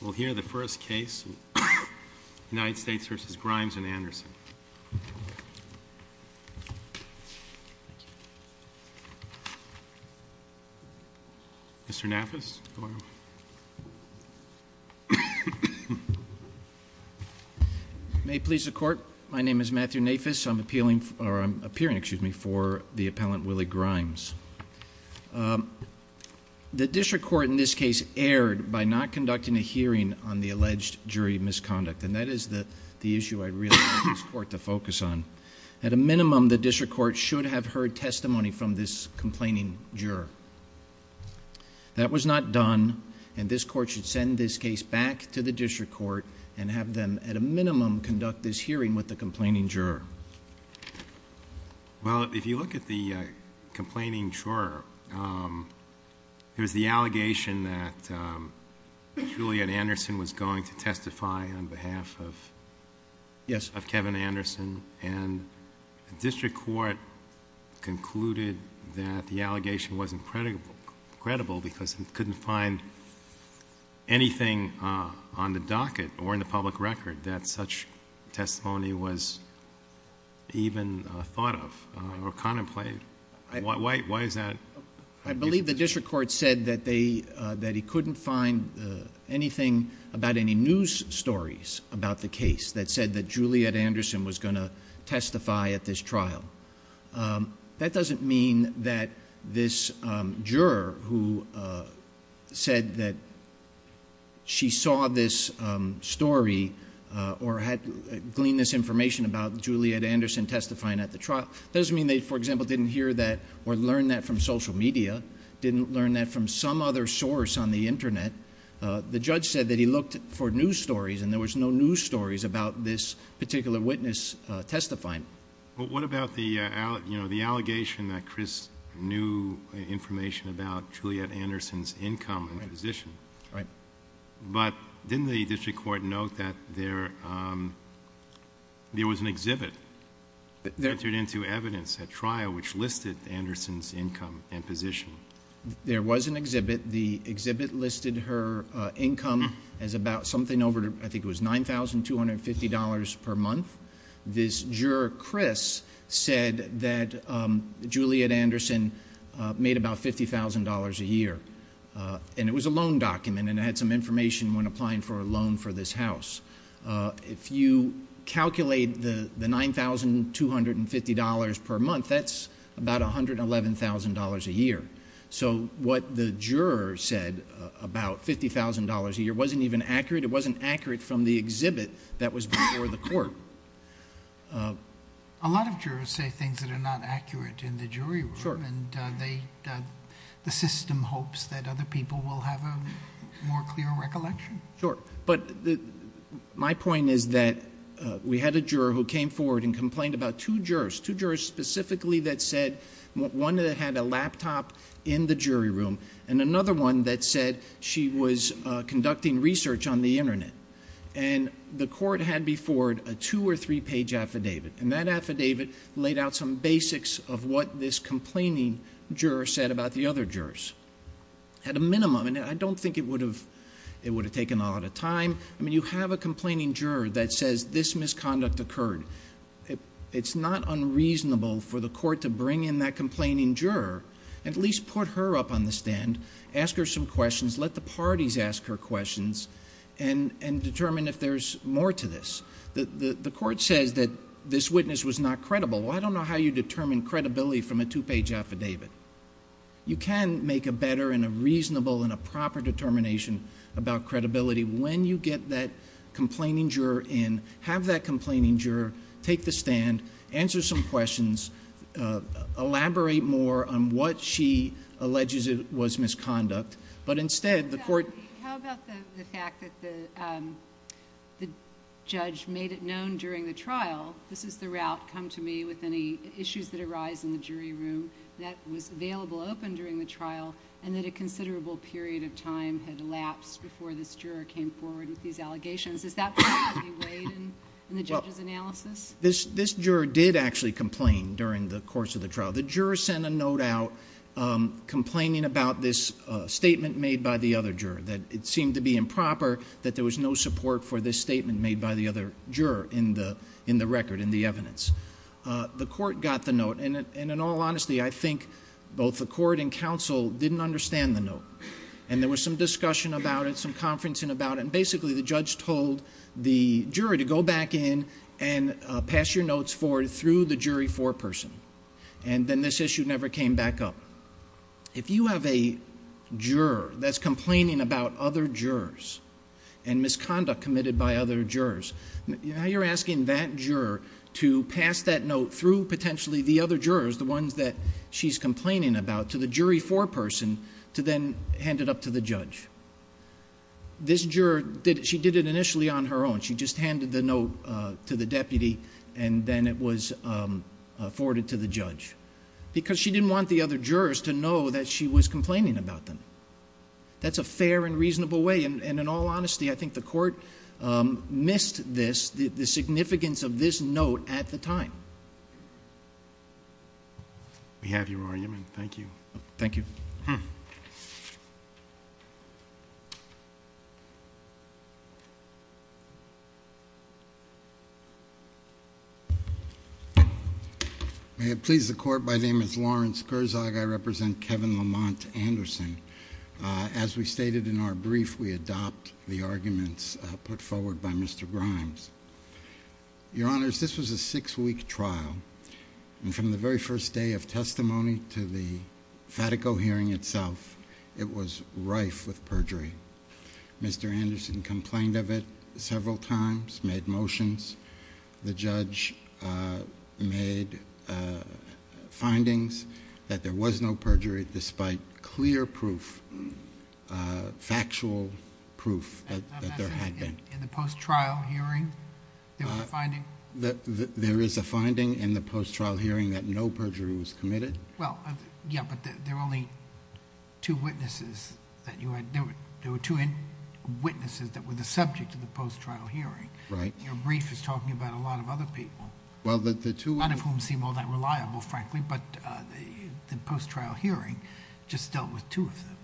We'll hear the first case, United States v. Grimes and Anderson. Mr. Nafis, go ahead. May it please the Court, my name is Matthew Nafis. I'm appealing, or I'm appearing, excuse me, for the appellant Willie Grimes. The District Court in this case erred by not conducting a hearing on the alleged jury misconduct. And that is the issue I'd really like this Court to focus on. At a minimum, the District Court should have heard testimony from this complaining juror. That was not done, and this Court should send this case back to the District Court and have them, at a minimum, conduct this hearing with the complaining juror. Well, if you look at the complaining juror, there's the allegation that Juliet Anderson was going to testify on behalf of Kevin Anderson. And the District Court concluded that the allegation wasn't credible because it couldn't find anything on the docket or in the public record that such testimony was even thought of or contemplated. Why is that? I believe the District Court said that he couldn't find anything about any news stories about the case that said that Juliet Anderson was going to testify at this trial. That doesn't mean that this juror who said that she saw this story or had gleaned this information about Juliet Anderson testifying at the trial, doesn't mean they, for example, didn't hear that or learn that from social media, didn't learn that from some other source on the Internet. The judge said that he looked for news stories, and there was no news stories about this particular witness testifying. But what about the allegation that Chris knew information about Juliet Anderson's income and position? Right. But didn't the District Court note that there was an exhibit that entered into evidence at trial which listed Anderson's income and position? There was an exhibit. The exhibit listed her income as about something over, I think it was $9,250 per month. This juror, Chris, said that Juliet Anderson made about $50,000 a year, and it was a loan document and it had some information when applying for a loan for this house. If you calculate the $9,250 per month, that's about $111,000 a year. So what the juror said about $50,000 a year wasn't even accurate. It wasn't accurate from the exhibit that was before the court. A lot of jurors say things that are not accurate in the jury room, and the system hopes that other people will have a more clear recollection. Sure. But my point is that we had a juror who came forward and complained about two jurors, two jurors specifically that said one had a laptop in the jury room and another one that said she was conducting research on the Internet. And the court had before it a two- or three-page affidavit, and that affidavit laid out some basics of what this complaining juror said about the other jurors at a minimum. And I don't think it would have taken a lot of time. I mean, you have a complaining juror that says this misconduct occurred. It's not unreasonable for the court to bring in that complaining juror, at least put her up on the stand, ask her some questions, let the parties ask her questions, and determine if there's more to this. The court says that this witness was not credible. Well, I don't know how you determine credibility from a two-page affidavit. You can make a better and a reasonable and a proper determination about credibility when you get that complaining juror in, have that complaining juror take the stand, answer some questions, elaborate more on what she alleges was misconduct. But instead, the court— How about the fact that the judge made it known during the trial, this is the route, come to me with any issues that arise in the jury room, that was available open during the trial and that a considerable period of time had elapsed before this juror came forward with these allegations? Is that part of what you weighed in the judge's analysis? This juror did actually complain during the course of the trial. The juror sent a note out complaining about this statement made by the other juror, that it seemed to be improper, that there was no support for this statement made by the other juror in the record, in the evidence. The court got the note, and in all honesty, I think both the court and counsel didn't understand the note. And there was some discussion about it, some conferencing about it, and basically the judge told the jury to go back in and pass your notes forward through the jury foreperson. And then this issue never came back up. If you have a juror that's complaining about other jurors and misconduct committed by other jurors, now you're asking that juror to pass that note through potentially the other jurors, the ones that she's complaining about, to the jury foreperson, to then hand it up to the judge. This juror, she did it initially on her own. She just handed the note to the deputy and then it was forwarded to the judge because she didn't want the other jurors to know that she was complaining about them. That's a fair and reasonable way, and in all honesty, I think the court missed this, the significance of this note at the time. We have your argument. Thank you. Thank you. May it please the court, my name is Lawrence Kurzog. I represent Kevin Lamont Anderson. As we stated in our brief, we adopt the arguments put forward by Mr. Grimes. Your Honors, this was a six-week trial, and from the very first day of testimony to the Fatico hearing itself, it was rife with perjury. Mr. Anderson complained of it several times, made motions. The judge made findings that there was no perjury despite clear proof, factual proof that there had been. In the post-trial hearing, there was a finding? There is a finding in the post-trial hearing that no perjury was committed. Yeah, but there were only two witnesses that you had... there were two witnesses that were the subject of the post-trial hearing. Right. Your brief is talking about a lot of other people. Well, the two... None of whom seem all that reliable, frankly, but the post-trial hearing just dealt with two of them.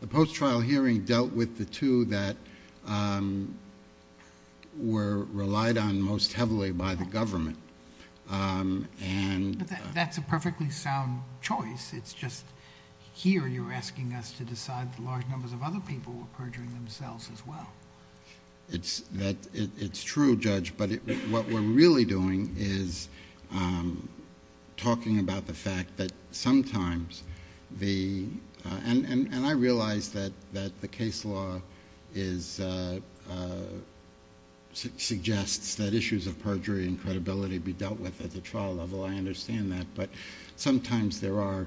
The post-trial hearing dealt with the two that were relied on most heavily by the government. That's a perfectly sound choice. It's just here you're asking us to decide the large numbers of other people were perjuring themselves as well. It's true, Judge, but what we're really doing is talking about the fact that sometimes the... and I realize that the case law suggests that issues of perjury and credibility be dealt with at the trial level. I understand that. But sometimes there are...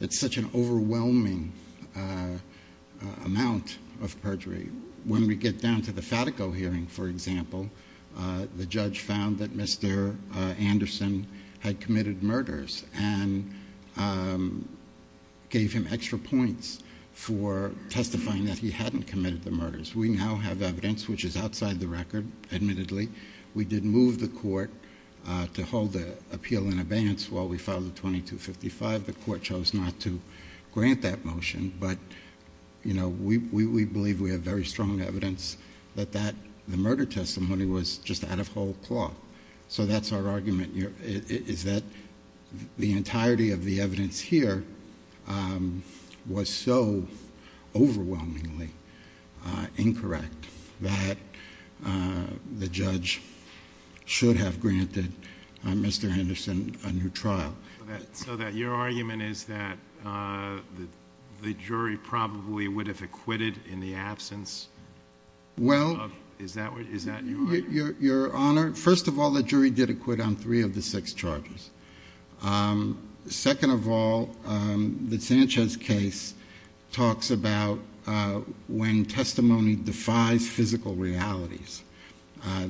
it's such an overwhelming amount of perjury. When we get down to the Fatico hearing, for example, the judge found that Mr. Anderson had committed murders and gave him extra points for testifying that he hadn't committed the murders. We now have evidence which is outside the record, admittedly. We did move the court to hold the appeal in abeyance while we filed the 2255. The court chose not to grant that motion, but we believe we have very strong evidence that the murder testimony was just out of whole cloth. So that's our argument, is that the entirety of the evidence here was so overwhelmingly incorrect that the judge should have granted Mr. Anderson a new trial. So that your argument is that the jury probably would have acquitted in the absence of... Well... Is that your argument? Your Honor, first of all, the jury did acquit on three of the six charges. Second of all, the Sanchez case talks about when testimony defies physical realities.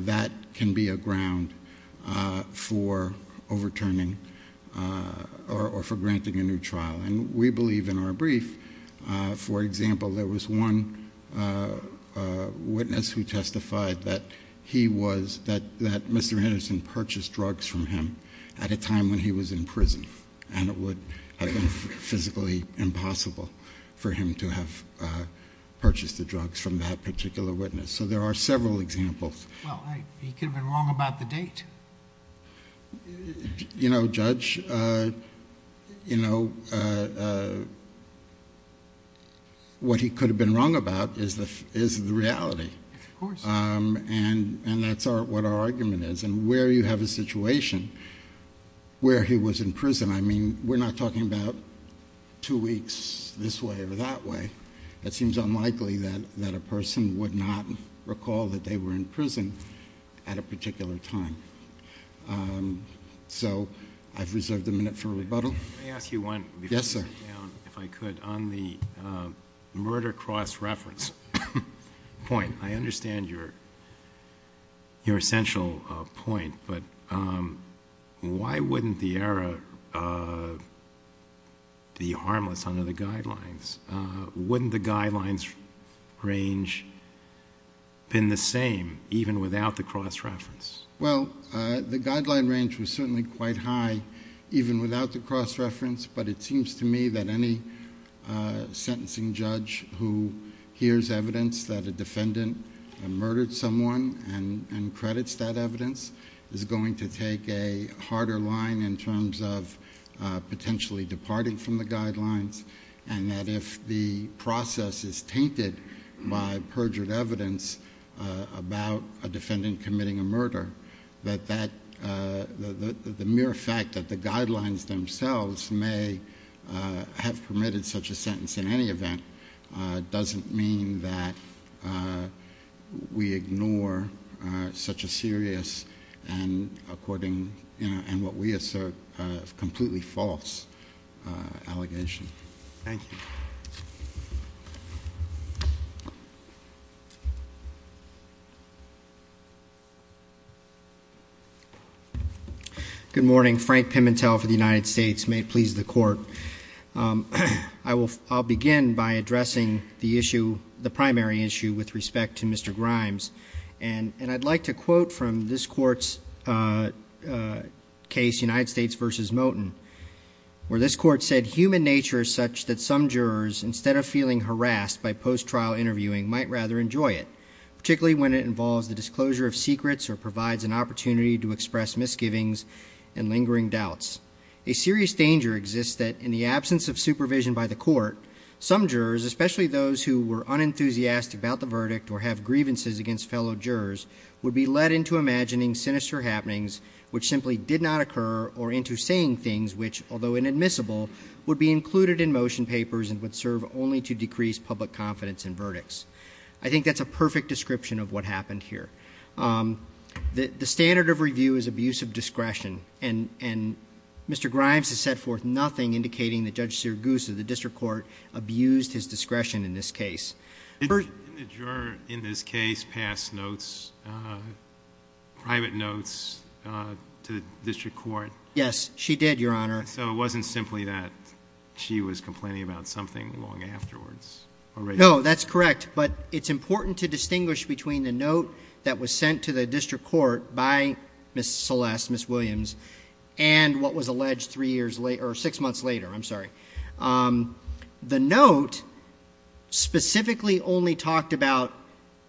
That can be a ground for overturning or for granting a new trial. And we believe in our brief, for example, there was one witness who testified that he was... that Mr. Anderson purchased drugs from him at a time when he was in prison. And it would have been physically impossible for him to have purchased the drugs from that particular witness. So there are several examples. Well, he could have been wrong about the date. You know, Judge, you know, what he could have been wrong about is the reality. Of course. And that's what our argument is. And where you have a situation where he was in prison, I mean, we're not talking about two weeks this way or that way. It seems unlikely that a person would not recall that they were in prison at a particular time. So I've reserved a minute for rebuttal. May I ask you one? Yes, sir. If I could. On the murder cross-reference point, I understand your essential point. But why wouldn't the error be harmless under the guidelines? Wouldn't the guidelines range have been the same even without the cross-reference? Well, the guideline range was certainly quite high even without the cross-reference. But it seems to me that any sentencing judge who hears evidence that a defendant murdered someone and credits that evidence is going to take a harder line in terms of potentially departing from the guidelines. And that if the process is tainted by perjured evidence about a defendant committing a murder, that the mere fact that the guidelines themselves may have permitted such a sentence in any event doesn't mean that we ignore such a serious and, according to what we assert, completely false allegation. Thank you. Good morning. Frank Pimentel for the United States. May it please the Court. I'll begin by addressing the issue, the primary issue, with respect to Mr. Grimes. And I'd like to quote from this Court's case, United States v. Moten, where this Court said, Human nature is such that some jurors, instead of feeling harassed by post-trial interviewing, might rather enjoy it, particularly when it involves the disclosure of secrets or provides an opportunity to express misgivings and lingering doubts. A serious danger exists that, in the absence of supervision by the Court, some jurors, especially those who were unenthusiastic about the verdict or have grievances against fellow jurors, would be led into imagining sinister happenings, which simply did not occur, or into saying things which, although inadmissible, would be included in motion papers and would serve only to decrease public confidence in verdicts. I think that's a perfect description of what happened here. The standard of review is abuse of discretion, and Mr. Grimes has set forth nothing indicating that Judge Sirigusa, the district court, abused his discretion in this case. Did the juror in this case pass notes, private notes, to the district court? Yes, she did, Your Honor. So it wasn't simply that she was complaining about something long afterwards? No, that's correct. But it's important to distinguish between the note that was sent to the district court by Ms. Celeste, Ms. Williams, and what was alleged six months later. The note specifically only talked about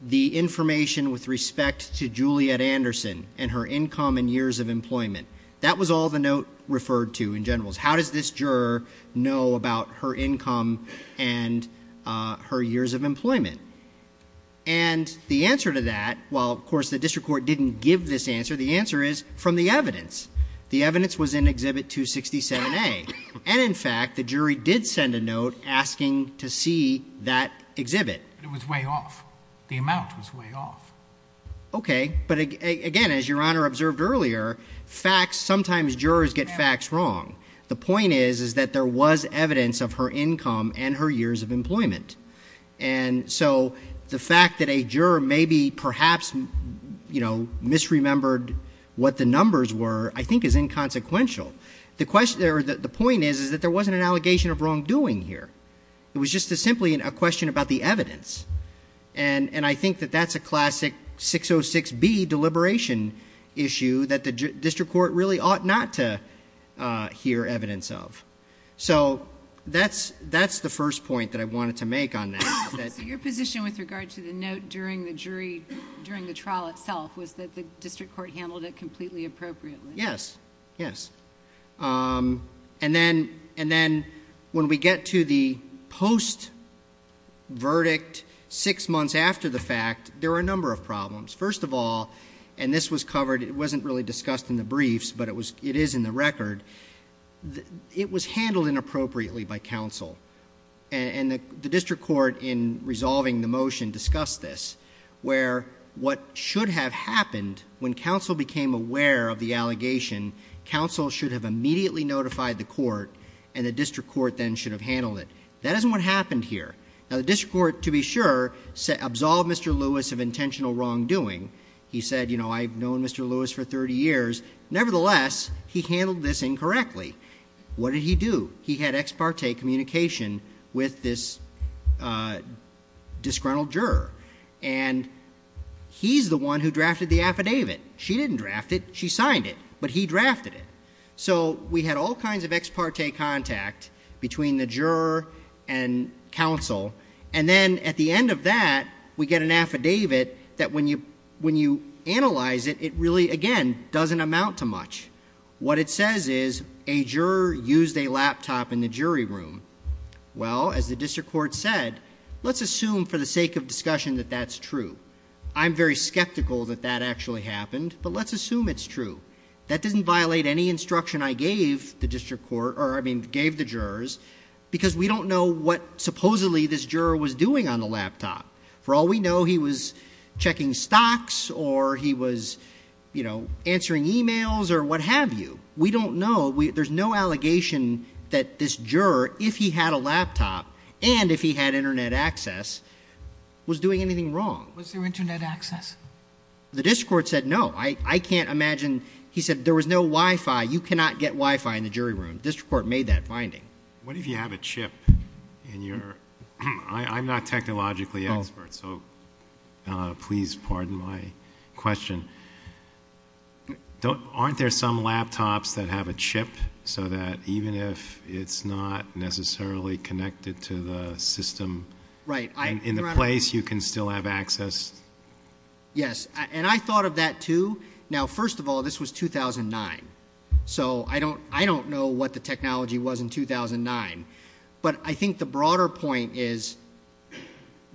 the information with respect to Juliet Anderson and her income and years of employment. That was all the note referred to in general. How does this juror know about her income and her years of employment? And the answer to that, while, of course, the district court didn't give this answer, the answer is from the evidence. The evidence was in Exhibit 267A. And, in fact, the jury did send a note asking to see that exhibit. It was way off. The amount was way off. Okay. But, again, as Your Honor observed earlier, facts, sometimes jurors get facts wrong. The point is that there was evidence of her income and her years of employment. And so the fact that a juror maybe perhaps misremembered what the numbers were I think is inconsequential. The point is that there wasn't an allegation of wrongdoing here. It was just simply a question about the evidence. And I think that that's a classic 606B deliberation issue that the district court really ought not to hear evidence of. So that's the first point that I wanted to make on that. So your position with regard to the note during the trial itself was that the district court handled it completely appropriately? Yes. Yes. And then when we get to the post-verdict six months after the fact, there were a number of problems. First of all, and this was covered, it wasn't really discussed in the briefs, but it is in the record, it was handled inappropriately by counsel. And the district court in resolving the motion discussed this where what should have happened when counsel became aware of the allegation, counsel should have immediately notified the court and the district court then should have handled it. That isn't what happened here. Now, the district court, to be sure, absolved Mr. Lewis of intentional wrongdoing. He said, you know, I've known Mr. Lewis for 30 years. Nevertheless, he handled this incorrectly. What did he do? He had ex parte communication with this disgruntled juror. And he's the one who drafted the affidavit. She didn't draft it. She signed it. But he drafted it. So we had all kinds of ex parte contact between the juror and counsel. And then at the end of that, we get an affidavit that when you analyze it, it really, again, doesn't amount to much. What it says is a juror used a laptop in the jury room. Well, as the district court said, let's assume for the sake of discussion that that's true. I'm very skeptical that that actually happened. But let's assume it's true. That doesn't violate any instruction I gave the district court or, I mean, gave the jurors because we don't know what supposedly this juror was doing on the laptop. For all we know, he was checking stocks or he was, you know, answering e-mails or what have you. We don't know. There's no allegation that this juror, if he had a laptop and if he had Internet access, was doing anything wrong. Was there Internet access? The district court said no. I can't imagine. He said there was no Wi-Fi. You cannot get Wi-Fi in the jury room. The district court made that finding. What if you have a chip? I'm not technologically expert, so please pardon my question. Aren't there some laptops that have a chip so that even if it's not necessarily connected to the system in the place, you can still have access? Yes. And I thought of that, too. Now, first of all, this was 2009. So I don't know what the technology was in 2009. But I think the broader point is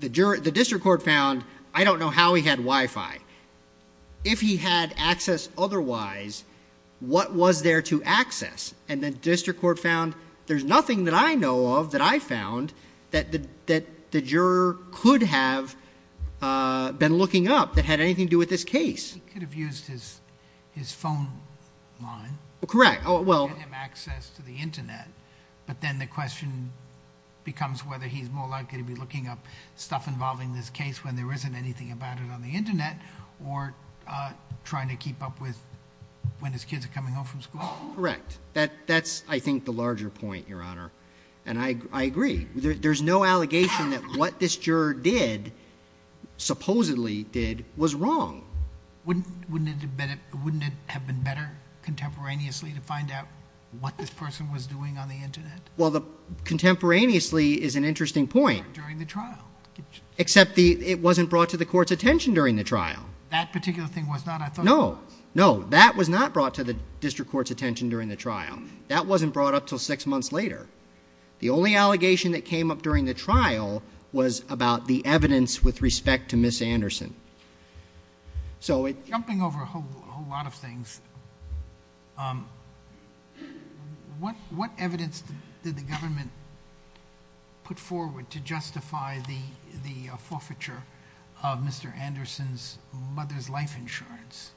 the district court found I don't know how he had Wi-Fi. If he had access otherwise, what was there to access? And the district court found there's nothing that I know of that I found that the juror could have been looking up that had anything to do with this case. He could have used his phone line to get him access to the Internet. But then the question becomes whether he's more likely to be looking up stuff involving this case when there isn't anything about it on the Internet or trying to keep up with when his kids are coming home from school. Correct. That's, I think, the larger point, Your Honor. And I agree. There's no allegation that what this juror did, supposedly did, was wrong. Wouldn't it have been better contemporaneously to find out what this person was doing on the Internet? Well, contemporaneously is an interesting point. During the trial. Except it wasn't brought to the court's attention during the trial. That particular thing was not, I thought. No. No, that was not brought to the district court's attention during the trial. That wasn't brought up until six months later. The only allegation that came up during the trial was about the evidence with respect to Ms. Anderson. Jumping over a whole lot of things. What evidence did the government put forward to justify the forfeiture of Mr. Anderson's mother's life insurance?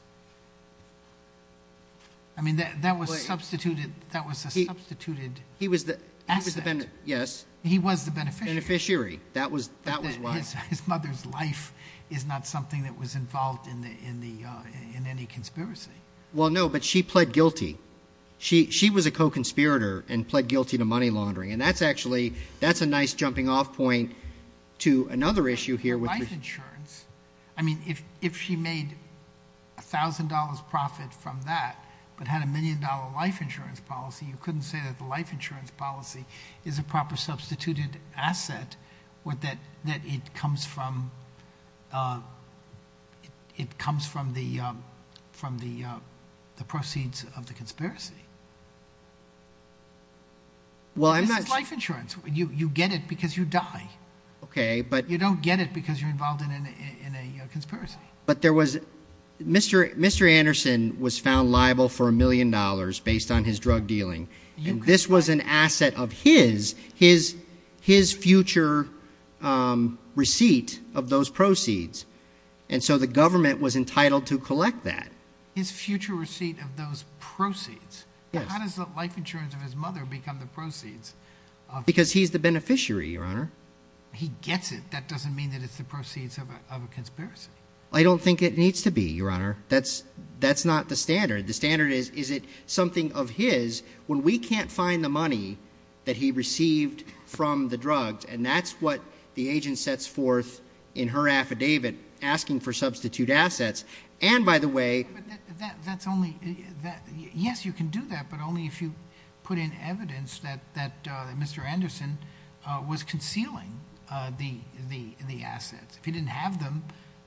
I mean, that was substituted. That was a substituted asset. Yes. He was the beneficiary. Beneficiary. That was why. His mother's life is not something that was involved in any conspiracy. Well, no, but she pled guilty. She was a co-conspirator and pled guilty to money laundering. And that's actually, that's a nice jumping off point to another issue here. I mean, if she made $1,000 profit from that, but had a million-dollar life insurance policy, you couldn't say that the life insurance policy is a proper substituted asset, that it comes from the proceeds of the conspiracy. This is life insurance. You get it because you die. Okay, but. You don't get it because you're involved in a conspiracy. But there was, Mr. Anderson was found liable for $1 million based on his drug dealing. And this was an asset of his, his future receipt of those proceeds. And so the government was entitled to collect that. His future receipt of those proceeds? How does the life insurance of his mother become the proceeds? Because he's the beneficiary, Your Honor. He gets it. That doesn't mean that it's the proceeds of a conspiracy. I don't think it needs to be, Your Honor. That's not the standard. The standard is, is it something of his when we can't find the money that he received from the drugs? And that's what the agent sets forth in her affidavit asking for substitute assets. But that's only, yes, you can do that, but only if you put in evidence that Mr. Anderson was concealing the assets. If he didn't have them,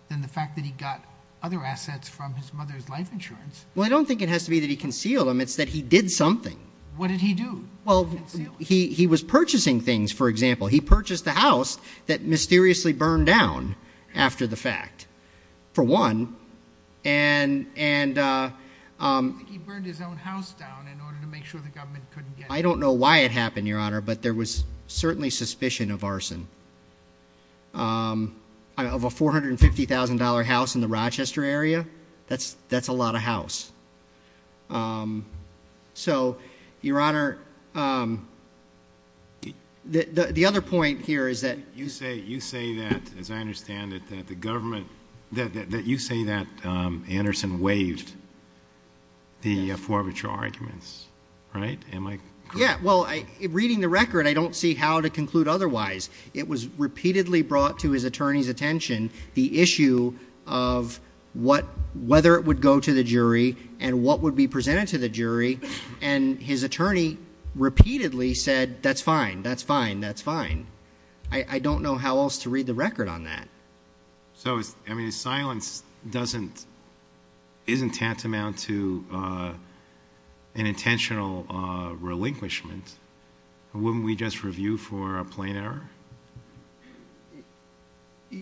then the fact that he got other assets from his mother's life insurance. Well, I don't think it has to be that he concealed them. It's that he did something. What did he do? Well, he was purchasing things, for example. He purchased a house that mysteriously burned down after the fact. For one. And he burned his own house down in order to make sure the government couldn't get it. I don't know why it happened, Your Honor, but there was certainly suspicion of arson. Of a $450,000 house in the Rochester area, that's a lot of house. So, Your Honor, the other point here is that. You say that, as I understand it, that the government, that you say that Anderson waived the forfeiture arguments, right? Am I correct? Yeah, well, reading the record, I don't see how to conclude otherwise. It was repeatedly brought to his attorney's attention the issue of whether it would go to the jury and what would be presented to the jury. And his attorney repeatedly said, that's fine, that's fine, that's fine. I don't know how else to read the record on that. So, I mean, silence isn't tantamount to an intentional relinquishment. Wouldn't we just review for a plain error?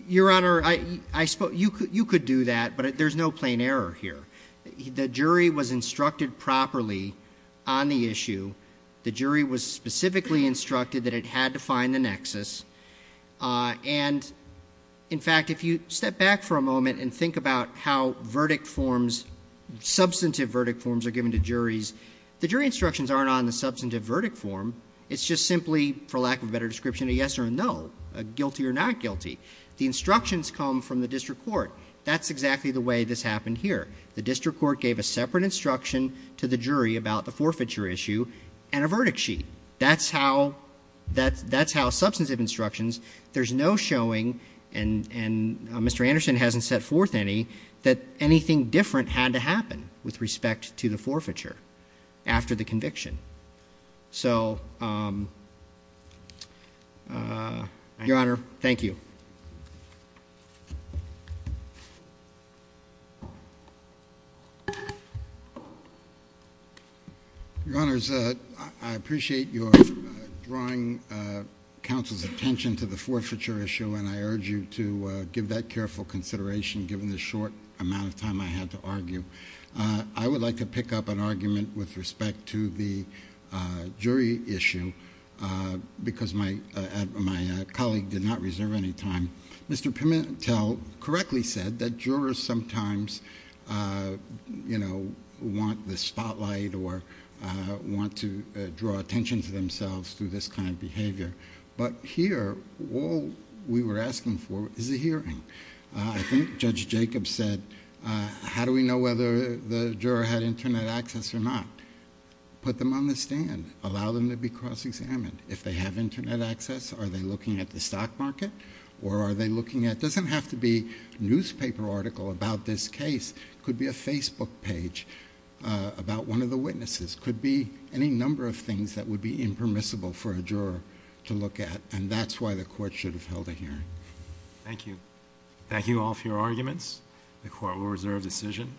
Your Honor, you could do that, but there's no plain error here. The jury was instructed properly on the issue. The jury was specifically instructed that it had to find the nexus. And, in fact, if you step back for a moment and think about how verdict forms, substantive verdict forms, are given to juries. The jury instructions aren't on the substantive verdict form. It's just simply, for lack of a better description, a yes or a no, a guilty or not guilty. The instructions come from the district court. That's exactly the way this happened here. The district court gave a separate instruction to the jury about the forfeiture issue and a verdict sheet. That's how substantive instructions, there's no showing, and Mr. Anderson hasn't set forth any, that anything different had to happen with respect to the forfeiture after the conviction. So, Your Honor, thank you. Your Honors, I appreciate your drawing counsel's attention to the forfeiture issue, and I urge you to give that careful consideration given the short amount of time I had to argue. I would like to pick up an argument with respect to the jury issue because my colleague did not reserve any time. Mr. Pimentel correctly said that jurors sometimes, you know, want the spotlight or want to draw attention to themselves through this kind of behavior. But here, all we were asking for is a hearing. I think Judge Jacobs said, how do we know whether the juror had Internet access or not? Put them on the stand. Allow them to be cross-examined. If they have Internet access, are they looking at the stock market or are they looking at... It doesn't have to be a newspaper article about this case. It could be a Facebook page about one of the witnesses. It could be any number of things that would be impermissible for a juror to look at, and that's why the court should have held a hearing. Thank you. Thank you all for your arguments. The court will reserve decision.